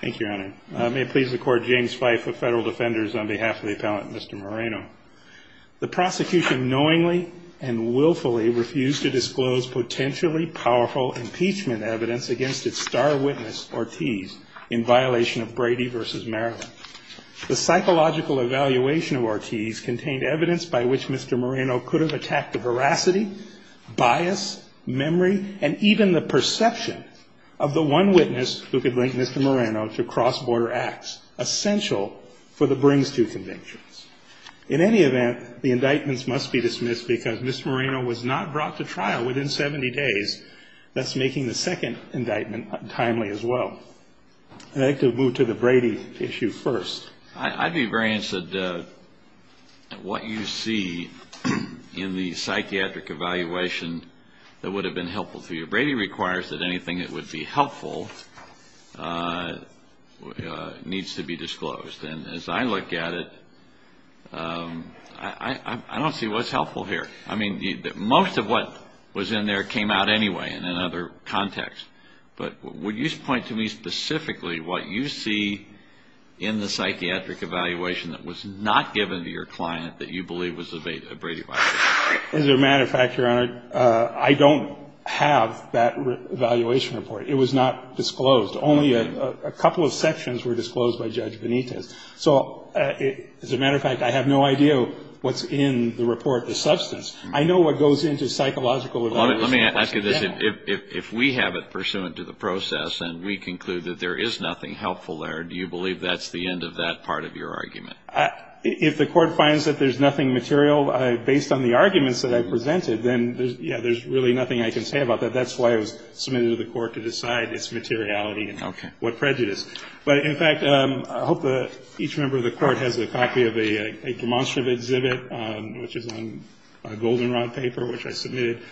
Thank you, Your Honor. I may please record James Fife of Federal Defenders on behalf of the appellant, Mr. Moreno. The prosecution knowingly and willfully refused to disclose potentially powerful impeachment evidence against its star witness, Ortiz, in violation of Brady v. Maryland. The psychological evaluation of Ortiz contained evidence by which Mr. Moreno could have attacked the veracity, bias, memory, and even the perception of the one witness who could link Mr. Moreno to cross-border acts essential for the brings-to convictions. In any event, the indictments must be dismissed because Mr. Moreno was not brought to trial within 70 days, thus making the second indictment timely as well. I'd like to move to the Brady issue first. I'd be very interested in what you see in the psychiatric evaluation that would have been helpful to you. Brady requires that anything that would be helpful needs to be disclosed. And as I look at it, I don't see what's helpful here. I mean, most of what was in there came out anyway in another context. But would you point to me specifically what you see in the psychiatric evaluation that was not given to your client that you believe was a Brady violation? As a matter of fact, Your Honor, I don't have that evaluation report. It was not disclosed. Only a couple of sections were disclosed by Judge Benitez. So as a matter of fact, I have no idea what's in the report, the substance. I know what goes into psychological evaluation. Let me ask you this. If we have it pursuant to the process and we conclude that there is nothing helpful there, do you believe that's the end of that part of your argument? If the Court finds that there's nothing material based on the arguments that I presented, then, yeah, there's really nothing I can say about that. That's why it was submitted to the Court to decide its materiality and what prejudice. Okay. But, in fact, I hope that each member of the Court has a copy of a demonstrative exhibit, which is on a goldenrod paper, which I submitted.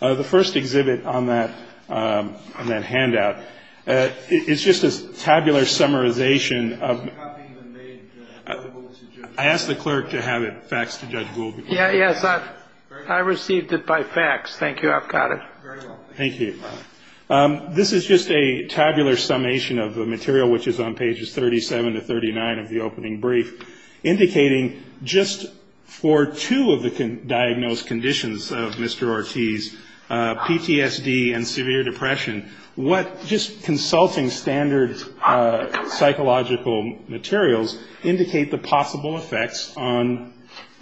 The first exhibit on that handout, it's just a tabular summarization of ‑‑ It's not being made available to judges. I asked the clerk to have it faxed to Judge Gould. Yes, I received it by fax. Thank you. I've got it. Very well. Thank you. This is just a tabular summation of the material, which is on pages 37 to 39 of the opening brief, indicating just for two of the diagnosed conditions of Mr. Ortiz, PTSD and severe depression, what just consulting standard psychological materials indicate the possible effects on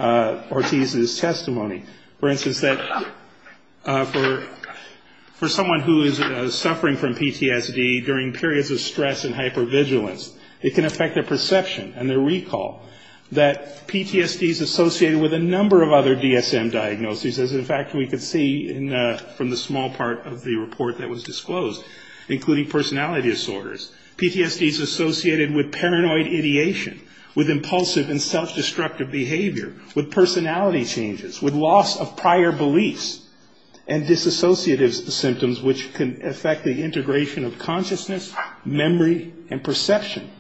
Ortiz's testimony. For instance, that for someone who is suffering from PTSD during periods of stress and hypervigilance, it can affect their perception and their recall that PTSD is associated with a number of other DSM diagnoses, as, in fact, we can see from the small part of the report that was disclosed, including personality disorders. PTSD is associated with paranoid ideation, with impulsive and self‑destructive behavior, with personality changes, with loss of prior beliefs, and disassociative symptoms, which can affect the integration of consciousness, memory, and perception.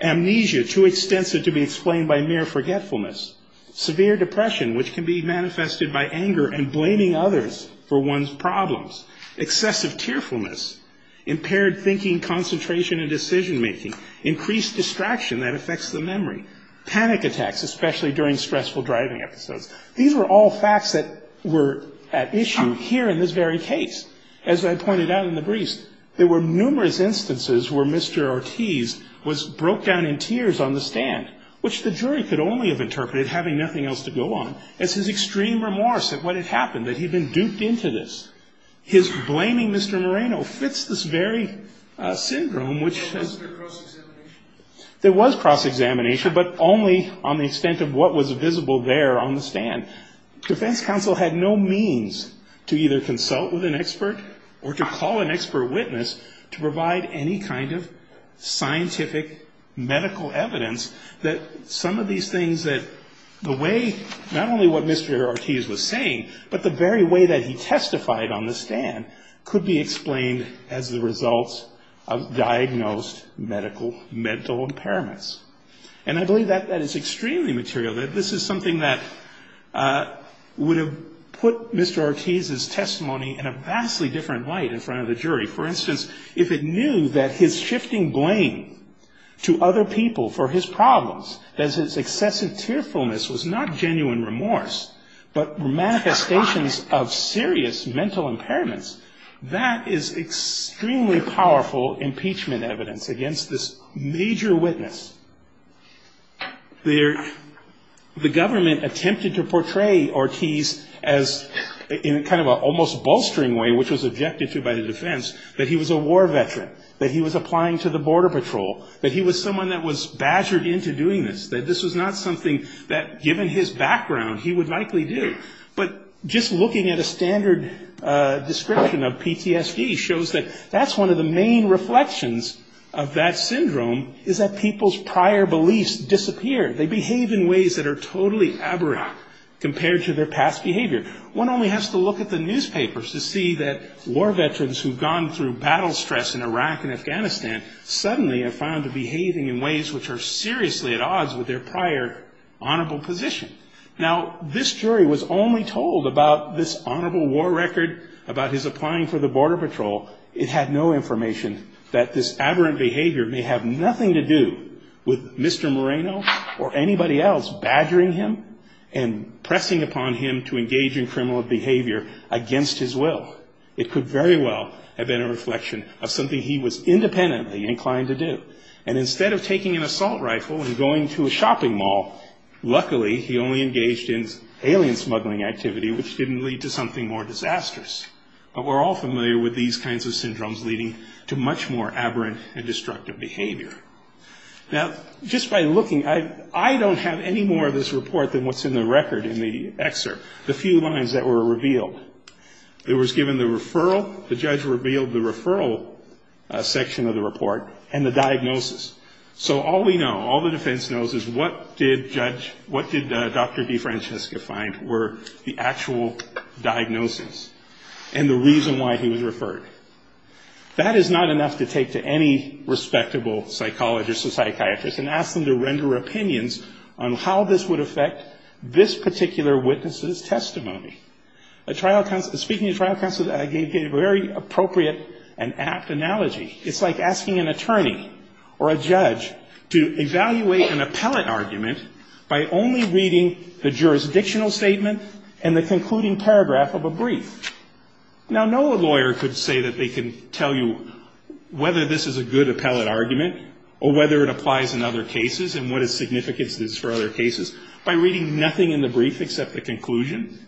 Amnesia, too extensive to be explained by mere forgetfulness. Severe depression, which can be manifested by anger and blaming others for one's problems. Excessive tearfulness. Impaired thinking, concentration, and decision‑making. Increased distraction that affects the memory. Panic attacks, especially during stressful driving episodes. These were all facts that were at issue here in this very case. As I pointed out in the briefs, there were numerous instances where Mr. Ortiz was broke down in tears on the stand, which the jury could only have interpreted having nothing else to go on, as his extreme remorse at what had happened, that he'd been duped into this. His blaming Mr. Moreno fits this very syndrome, which... There was cross‑examination, but only on the extent of what was visible there on the stand. Defense counsel had no means to either consult with an expert or to call an expert witness to provide any kind of scientific medical evidence that some of these things that the way, not only what Mr. Ortiz was saying, but the very way that he testified on the stand, could be explained as the results of diagnosed medical, mental impairments. And I believe that that is extremely material. This is something that would have put Mr. Ortiz's testimony in a vastly different light in front of the jury. For instance, if it knew that his shifting blame to other people for his problems, that his excessive tearfulness was not genuine remorse, but manifestations of serious mental impairments, that is extremely powerful impeachment evidence against this major witness. The government attempted to portray Ortiz in kind of an almost bolstering way, which was objected to by the defense, that he was a war veteran, that he was applying to the border patrol, that he was someone that was badgered into doing this, that this was not something that, given his background, he would likely do. But just looking at a standard description of PTSD shows that that's one of the main reflections of that syndrome, is that people's prior beliefs disappear. They behave in ways that are totally abracadabra compared to their past behavior. One only has to look at the newspapers to see that war veterans who've gone through battle stress in Iraq and Afghanistan suddenly have found them behaving in ways which are seriously at odds with their prior honorable position. Now, this jury was only told about this honorable war record, about his applying for the border patrol. It had no information that this aberrant behavior may have nothing to do with Mr. Moreno or anybody else badgering him and pressing upon him to engage in criminal behavior against his will. It could very well have been a reflection of something he was independently inclined to do. And instead of taking an assault rifle and going to a shopping mall, luckily he only engaged in alien smuggling activity, which didn't lead to something more disastrous. But we're all familiar with these kinds of syndromes leading to much more aberrant and destructive behavior. Now, just by looking, I don't have any more of this report than what's in the record in the excerpt, the few lines that were revealed. It was given the referral. The judge revealed the referral section of the report and the diagnosis. So all we know, all the defense knows is what did Judge – what did Dr. DeFrancesca find were the actual diagnosis and the reason why he was referred. That is not enough to take to any respectable psychologist or psychiatrist and ask them to render opinions on how this would affect this particular witness's testimony. A trial – speaking of trial counsel, I gave a very appropriate and apt analogy. It's like asking an attorney or a judge to evaluate an appellate argument by only reading the jurisdictional statement and the concluding paragraph of a brief. Now, no lawyer could say that they can tell you whether this is a good appellate argument or whether it applies in other cases and what its significance is for other cases by reading nothing in the brief except the conclusion.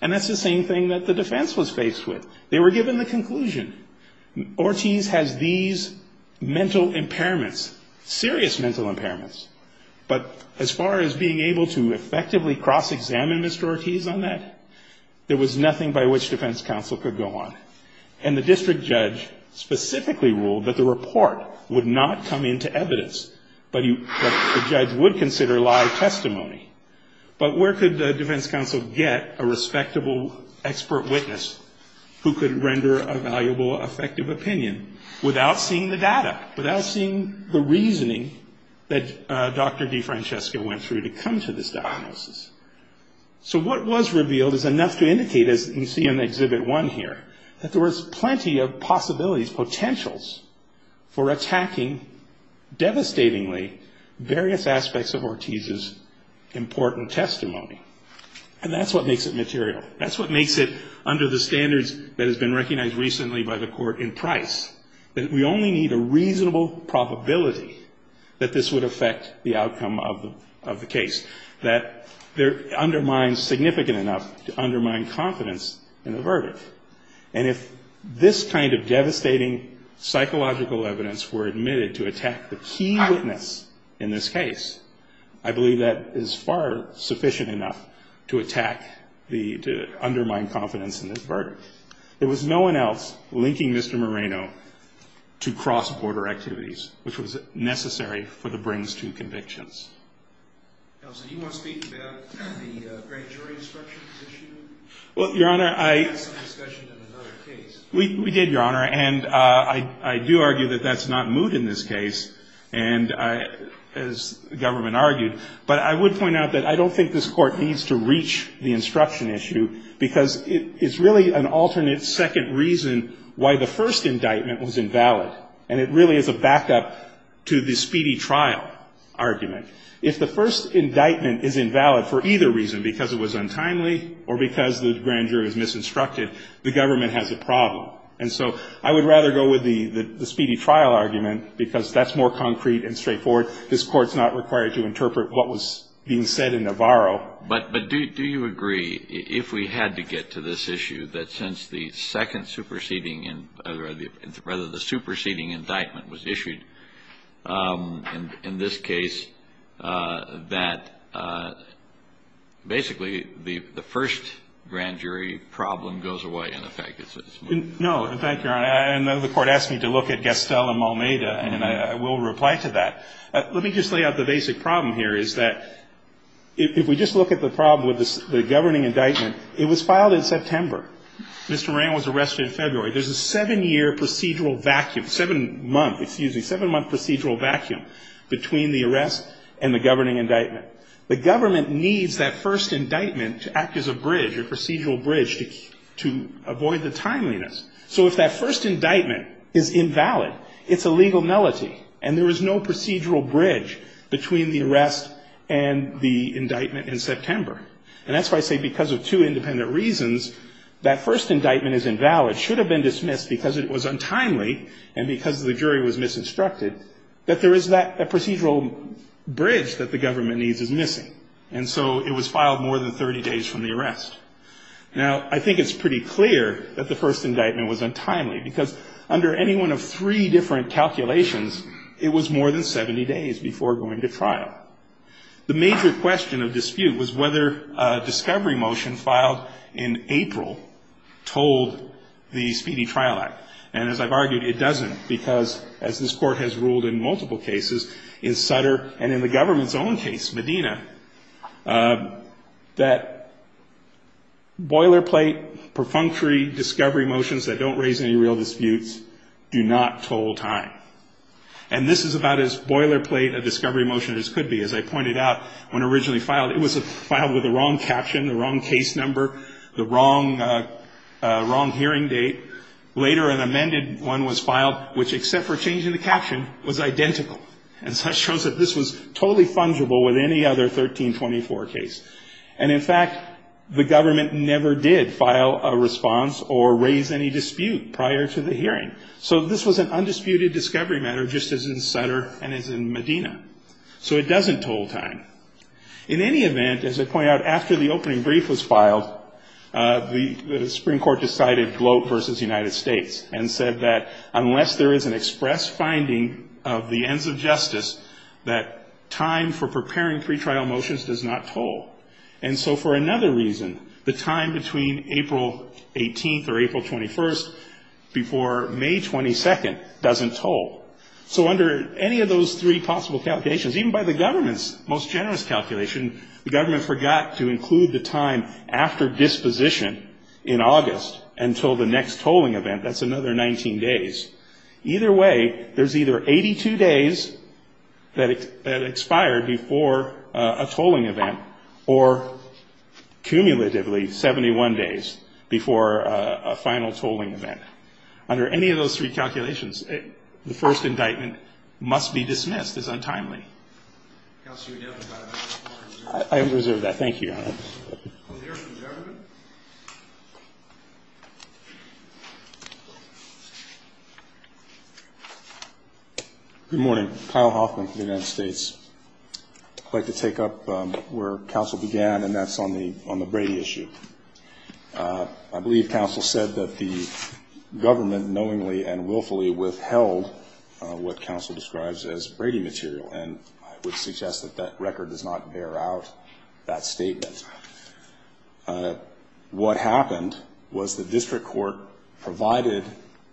And that's the same thing that the defense was faced with. They were given the conclusion. Ortiz has these mental impairments, serious mental impairments, but as far as being able to effectively cross-examine Mr. Ortiz on that, there was nothing by which defense counsel could go on. And the district judge specifically ruled that the report would not come into evidence, but the judge would consider live testimony. But where could defense counsel get a respectable expert witness who could render a valuable, effective opinion without seeing the data, without seeing the reasoning that Dr. DeFrancesca went through to come to this diagnosis? So what was revealed is enough to indicate, as you see in Exhibit 1 here, that there was plenty of possibilities, potentials, for attacking devastatingly various aspects of Ortiz's important testimony. And that's what makes it material. That's what makes it, under the standards that has been recognized recently by the Court in Price, that we only need a reasonable probability that this would affect the outcome of the case, that undermines significant enough to undermine confidence in the verdict. And if this kind of devastating psychological evidence were admitted to attack the key witness in this case, I believe that is far sufficient enough to attack the, to undermine confidence in this verdict. There was no one else linking Mr. Moreno to cross-border activities, which was necessary for the brings to convictions. Counsel, do you want to speak about the great jury instructions issued? Well, Your Honor, I... We had some discussion in another case. We did, Your Honor. And I do argue that that's not moot in this case, and I, as the government argued. But I would point out that I don't think this Court needs to reach the instruction issue, because it's really an alternate second reason why the first indictment was invalid. And it really is a backup to the speedy trial argument. If the first indictment is invalid for either reason, because it was untimely or because the grand jury was misinstructed, the government has a problem. And so I would rather go with the speedy trial argument, because that's more concrete and straightforward. This Court's not required to interpret what was being said in Navarro. But do you agree, if we had to get to this issue, that since the second superseding and rather the superseding indictment was issued in this case, that basically the first grand jury problem goes away in effect? No. In fact, Your Honor, I know the Court asked me to look at Gastel and Malmeda, and I will reply to that. Let me just lay out the basic problem here, is that if we just look at the problem with the governing indictment, it was filed in September. Mr. Moran was arrested in February. There's a seven-year procedural vacuum, seven-month, excuse me, seven-month procedural vacuum between the arrest and the governing indictment. The government needs that first indictment to act as a bridge, a procedural bridge, to avoid the timeliness. So if that first indictment is invalid, it's a legal nullity, and there is no procedural bridge between the arrest and the indictment in September. And that's why I say because of two independent reasons, that first indictment is invalid, should have been dismissed because it was untimely, and because the jury was misinstructed, that there is that procedural bridge that the government needs is missing. And so it was filed more than 30 days from the arrest. Now, I think it's pretty clear that the first indictment was untimely, because under any one of three different calculations, it was more than 70 days before going to trial. The major question of dispute was whether a discovery motion filed in April told the Speedy Trial Act. And as I've argued, it doesn't, because as this Court has ruled in multiple cases, in Sutter and in the government's own case, Medina, that boilerplate, perfunctory discovery motions that don't raise any real disputes do not toll time. And this is about as boilerplate a discovery motion as could be. As I pointed out, when originally filed, it was filed with the wrong caption, the wrong case number, the wrong hearing date. Later, an amended one was filed, which, except for changing the caption, was identical. And so it shows that this was totally fungible with any other 1324 case. And in fact, the government never did file a response or raise any dispute prior to the hearing. So this was an undisputed discovery matter, just as in Sutter and as in Medina. So it doesn't toll time. In any event, as I point out, after the opening brief was filed, the Supreme Court decided Gloat v. United States and said that unless there is an express finding of the ends of justice, that time for preparing pretrial motions does not toll. And so for another reason, the time between April 18th or April 21st before May 22nd doesn't toll. So under any of those three possible calculations, even by the government's most generous calculation, the government forgot to include the time after disposition in August until the next tolling event. That's another 19 days. Either way, there's either 82 days that expired before a tolling event, or cumulatively 71 days before a final tolling event. Under any of those three calculations, the first indictment must be dismissed as untimely. Thank you, Your Honor. Mr. Chairman. Good morning. Kyle Hoffman from the United States. I'd like to take up where counsel began, and that's on the Brady issue. I believe counsel said that the government knowingly and willfully withheld what counsel describes as Brady material, what happened was the district court provided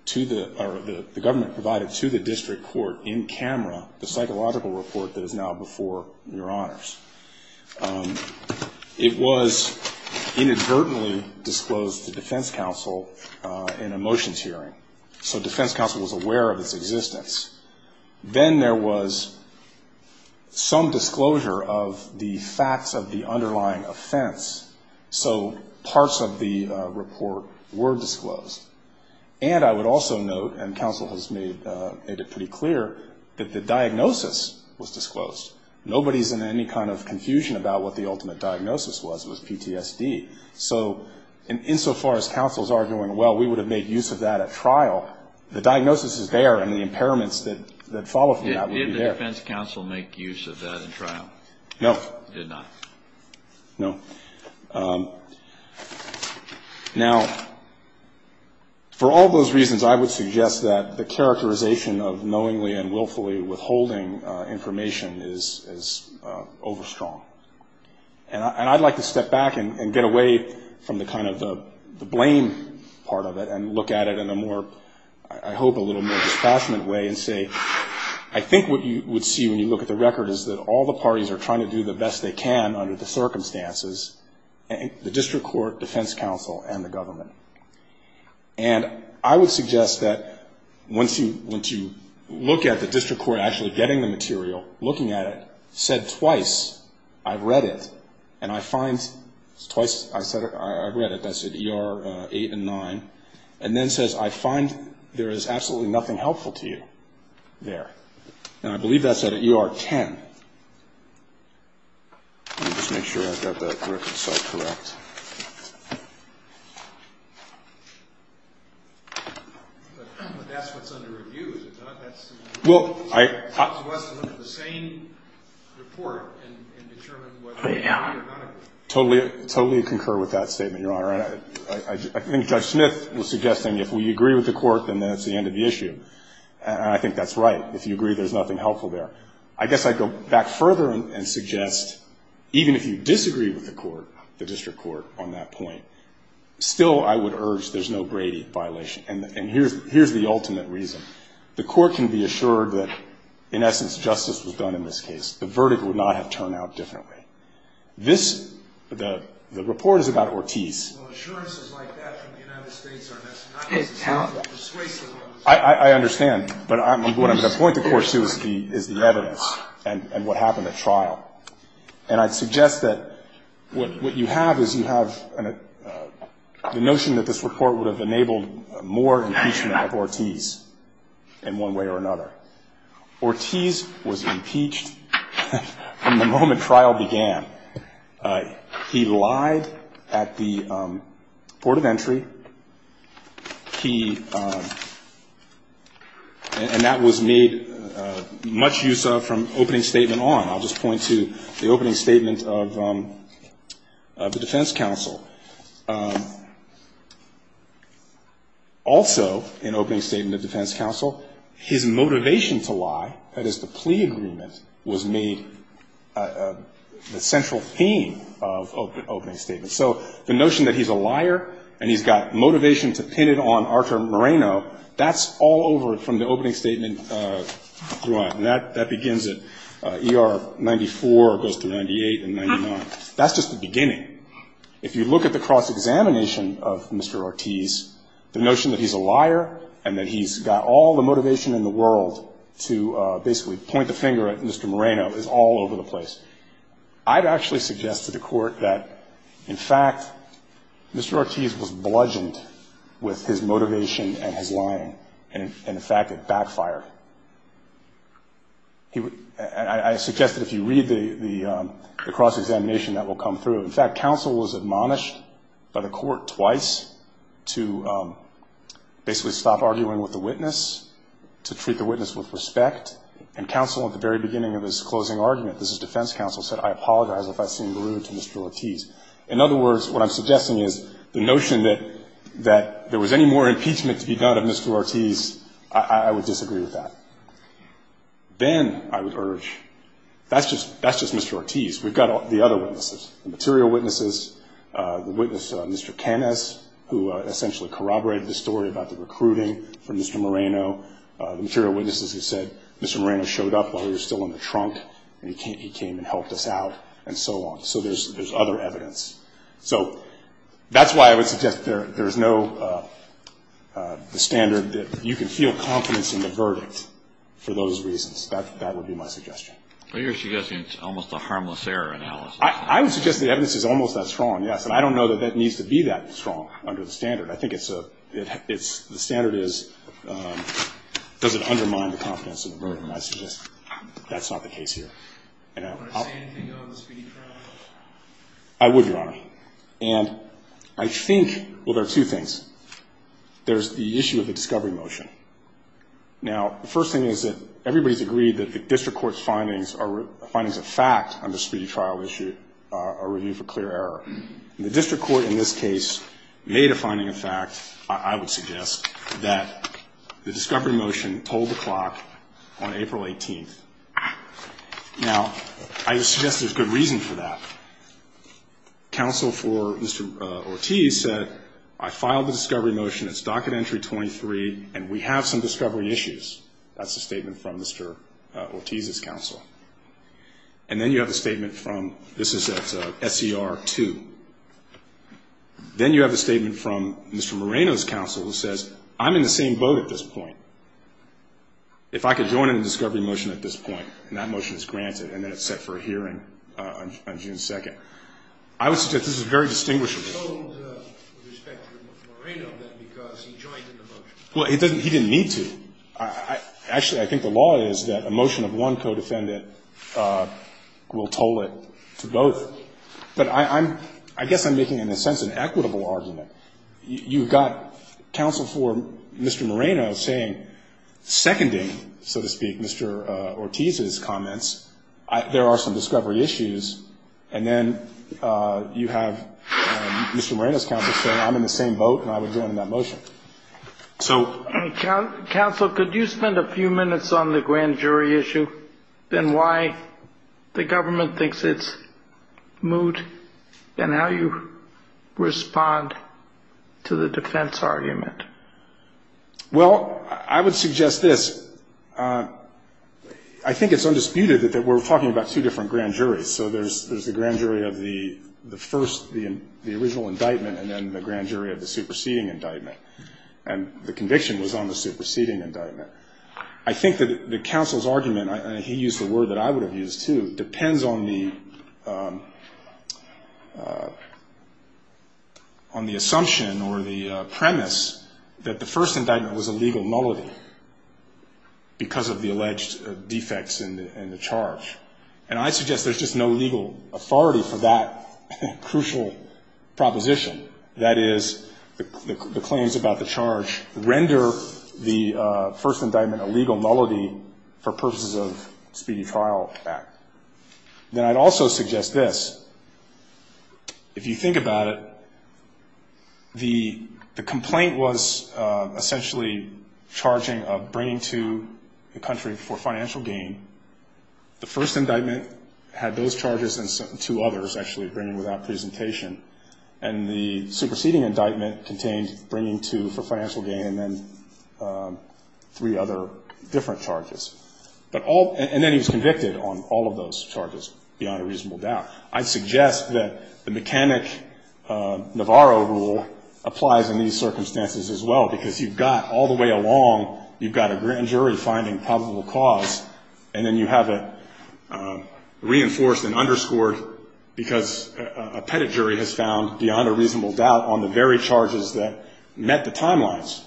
to the, or the government provided to the district court in camera the psychological report that is now before Your Honors. It was inadvertently disclosed to defense counsel in a motions hearing, so defense counsel was aware of its existence. Then there was some disclosure of the facts of the underlying offense, so parts of the report were disclosed. And I would also note, and counsel has made it pretty clear, that the diagnosis was disclosed. Nobody's in any kind of confusion about what the ultimate diagnosis was. It was PTSD. So insofar as counsel's arguing, well, we would have made use of that at trial, the diagnosis is there, and the impairments that follow from that would be there. Did the defense counsel make use of that in trial? No. Did not. No. Now, for all those reasons, I would suggest that the characterization of knowingly and willfully withholding information is overstrong. And I'd like to step back and get away from the kind of the blame part of it and look at it in a more, I hope a little more dispassionate way and say I think what you would see when you look at the record is that all the parties are trying to do the best they can under the circumstances, the district court, defense counsel, and the government. And I would suggest that once you look at the district court actually getting the material, looking at it, said twice, I've read it, and I find, twice I've read it, that's at ER 8 and 9, and then says I find there is absolutely nothing helpful to you there. And I believe that's at ER 10. Let me just make sure I've got the record so correct. But that's what's under review, is it not? Well, I... I think Judge Smith was suggesting if we agree with the court, then that's the end of the issue. And I think that's right. If you agree there's nothing helpful there. I guess I'd go back further and suggest even if you disagree with the court, the district court on that point, still I would urge there's no Brady violation. And here's the ultimate reason. The court can be assured that in essence justice was done in this case. The verdict would not have turned out differently. This, the report is about Ortiz. Well, assurances like that from the United States are not necessarily persuasive. I understand. But what I'm going to point the court to is the evidence and what happened at trial. And I'd suggest that what you have is you have the notion that this report would have enabled more impeachment of Ortiz in one way or another. Ortiz was impeached from the moment trial began. He lied at the court of entry. He... And that was made much use of from opening statement on. I'll just point to the opening statement of the defense counsel. Also, in opening statement of defense counsel, his motivation to lie, that is the plea agreement, was made the central theme of opening statement. So the notion that he's a liar and he's got motivation to pin it on Archer Moreno, that's all over from the opening statement. And that begins at ER 94, goes to 98 and 99. That's just the beginning. If you look at the cross-examination of Mr. Ortiz, the notion that he's a liar and that he's got all the motivation in the world to basically point the finger at Mr. Moreno is all over the place. I'd actually suggest to the court that, in fact, Mr. Ortiz was bludgeoned with his motivation and his lying. And, in fact, it backfired. I suggest that if you read the cross-examination, that will come through. In fact, counsel was admonished by the court twice to basically stop arguing with the witness, to treat the witness with respect. And counsel at the very beginning of his closing argument, this is defense counsel, said, I apologize if I seem rude to Mr. Ortiz. In other words, what I'm suggesting is the notion that there was any more impeachment to be done of Mr. Ortiz, I would disagree with that. Then I would urge, that's just Mr. Ortiz. We've got the other witnesses, the material witnesses, the witness, Mr. Canes, who essentially corroborated the story about the recruiting for Mr. Moreno. The material witnesses have said Mr. Moreno showed up while he was still in the trunk, and he came and helped us out, and so on. So there's other evidence. So that's why I would suggest there's no standard that you can feel confidence in the verdict for those reasons. That would be my suggestion. But you're suggesting it's almost a harmless error analysis. I would suggest the evidence is almost that strong, yes. And I don't know that that needs to be that strong under the standard. I think it's a – the standard is, does it undermine the confidence in the verdict? And I suggest that's not the case here. Would you say anything on the speedy trial? I would, Your Honor. And I think – well, there are two things. There's the issue of the discovery motion. Now, the first thing is that everybody's agreed that the district court's findings are – findings of fact on the speedy trial issue are reviewed for clear error. The district court in this case made a finding of fact, I would suggest, that the discovery motion told the clock on April 18th. Now, I would suggest there's good reason for that. Counsel for Mr. Ortiz said, I filed the discovery motion. It's docket entry 23, and we have some discovery issues. That's a statement from Mr. Ortiz's counsel. And then you have a statement from – this is at SER 2. Then you have a statement from Mr. Moreno's counsel who says, I'm in the same boat at this point. If I could join in a discovery motion at this point, and that motion is granted, and then it's set for a hearing on June 2nd. I would suggest this is very distinguishable. He told, with respect to Mr. Moreno, that because he joined in the motion. Well, he didn't need to. Actually, I think the law is that a motion of one co-defendant will toll it to both. But I guess I'm making, in a sense, an equitable argument. You've got counsel for Mr. Moreno saying, seconding, so to speak, Mr. Ortiz's comments. There are some discovery issues. And then you have Mr. Moreno's counsel saying, I'm in the same boat, and I would join in that motion. Counsel, could you spend a few minutes on the grand jury issue, and why the government thinks it's moot, and how you respond to the defense argument? Well, I would suggest this. I think it's undisputed that we're talking about two different grand juries. So there's the grand jury of the first, the original indictment, and then the grand jury of the superseding indictment. And the conviction was on the superseding indictment. I think that the counsel's argument, and he used the word that I would have used too, depends on the assumption or the premise that the first indictment was a legal nullity, because of the alleged defects in the charge. And I suggest there's just no legal authority for that crucial proposition. That is, the claims about the charge render the first indictment a legal nullity for purposes of speedy trial act. Then I'd also suggest this. If you think about it, the complaint was essentially charging of bringing to the country for financial gain. The first indictment had those charges and two others, actually, bringing without presentation. And the superseding indictment contained bringing to for financial gain and then three other different charges. And then he was convicted on all of those charges, beyond a reasonable doubt. I'd suggest that the mechanic Navarro rule applies in these circumstances as well, because you've got all the way along, you've got a grand jury finding probable cause, and then you have it reinforced and underscored because a pettit jury has found beyond a reasonable doubt on the very charges that met the timelines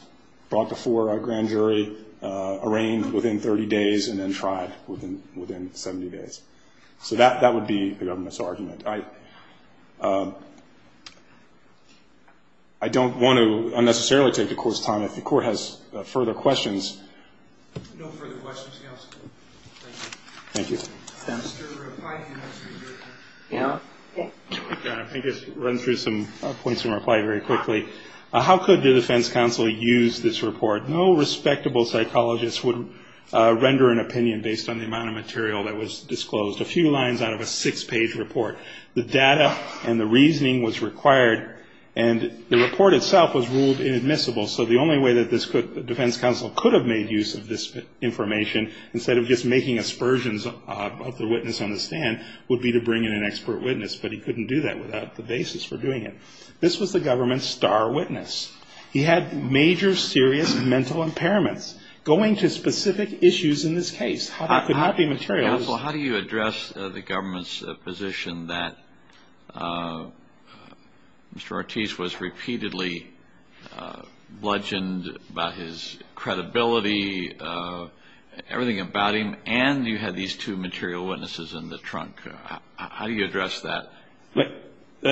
brought before a grand jury, arraigned within 30 days, and then tried within 70 days. So that would be the government's argument. I don't want to unnecessarily take the Court's time. If the Court has further questions. No further questions, Counsel. Thank you. Thank you. Mr. Rapaio, you're next. Yeah. I think I've run through some points in reply very quickly. How could the defense counsel use this report? No respectable psychologist would render an opinion based on the amount of material that was disclosed. A few lines out of a six-page report. The data and the reasoning was required, and the report itself was ruled inadmissible. So the only way that the defense counsel could have made use of this information, instead of just making aspersions of the witness on the stand, would be to bring in an expert witness. But he couldn't do that without the basis for doing it. This was the government's star witness. He had major, serious mental impairments. Going to specific issues in this case. Counsel, how do you address the government's position that Mr. Ortiz was repeatedly bludgeoned about his credibility, everything about him, and you had these two material witnesses in the trunk? How do you address that?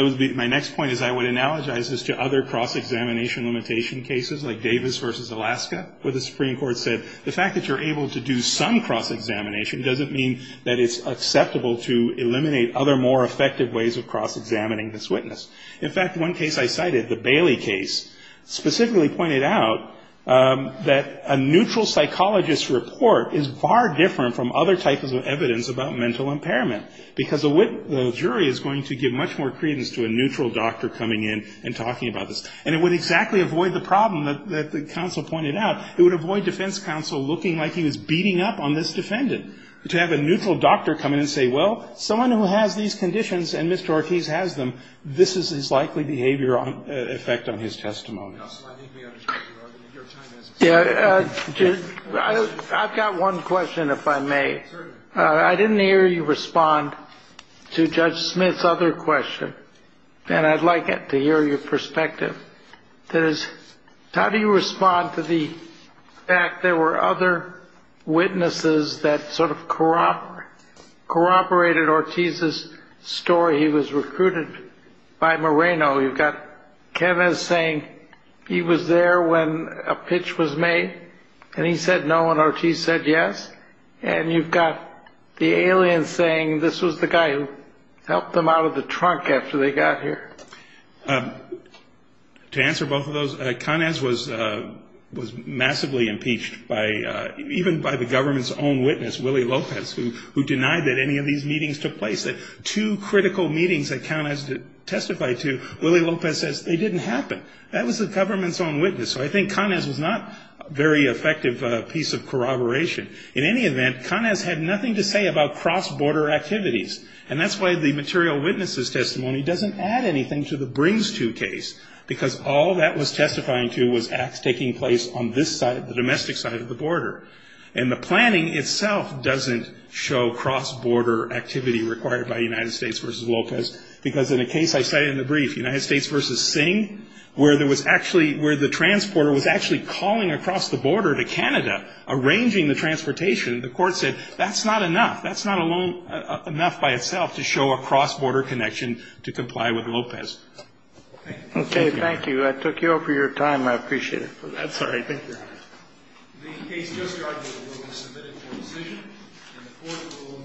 My next point is I would analogize this to other cross-examination limitation cases, like Davis v. Alaska, where the Supreme Court said, the fact that you're able to do some cross-examination doesn't mean that it's acceptable to eliminate other more effective ways of cross-examining this witness. In fact, one case I cited, the Bailey case, specifically pointed out that a neutral psychologist's report is far different from other types of evidence about mental impairment, because the jury is going to give much more credence to a neutral doctor coming in and talking about this. And it would exactly avoid the problem that the counsel pointed out. It would avoid defense counsel looking like he was beating up on this defendant. To have a neutral doctor come in and say, well, someone who has these conditions, and Mr. Ortiz has them, this is his likely behavior effect on his testimony. I've got one question, if I may. Certainly. I didn't hear you respond to Judge Smith's other question, and I'd like to hear your perspective. How do you respond to the fact there were other witnesses that sort of corroborated Ortiz's story? He was recruited by Moreno. You've got Kenneth saying he was there when a pitch was made, and he said no, and Ortiz said yes. And you've got the alien saying this was the guy who helped them out of the trunk after they got here. To answer both of those, Cáñez was massively impeached even by the government's own witness, Willie Lopez, who denied that any of these meetings took place. Two critical meetings that Cáñez testified to, Willie Lopez says they didn't happen. That was the government's own witness, so I think Cáñez was not a very effective piece of corroboration. In any event, Cáñez had nothing to say about cross-border activities, and that's why the material witnesses' testimony doesn't add anything to the brings-to case, because all that was testifying to was acts taking place on this side, the domestic side of the border. And the planning itself doesn't show cross-border activity required by United States versus Lopez, because in a case I cited in the brief, United States versus Singh, where there was actually – where the transporter was actually calling across the border to Canada, arranging the transportation. The Court said that's not enough. That's not enough by itself to show a cross-border connection to comply with Lopez. Thank you. Okay. Thank you. I took you over your time. I appreciate it. That's all right. Thank you. The case just argued will be submitted for decision.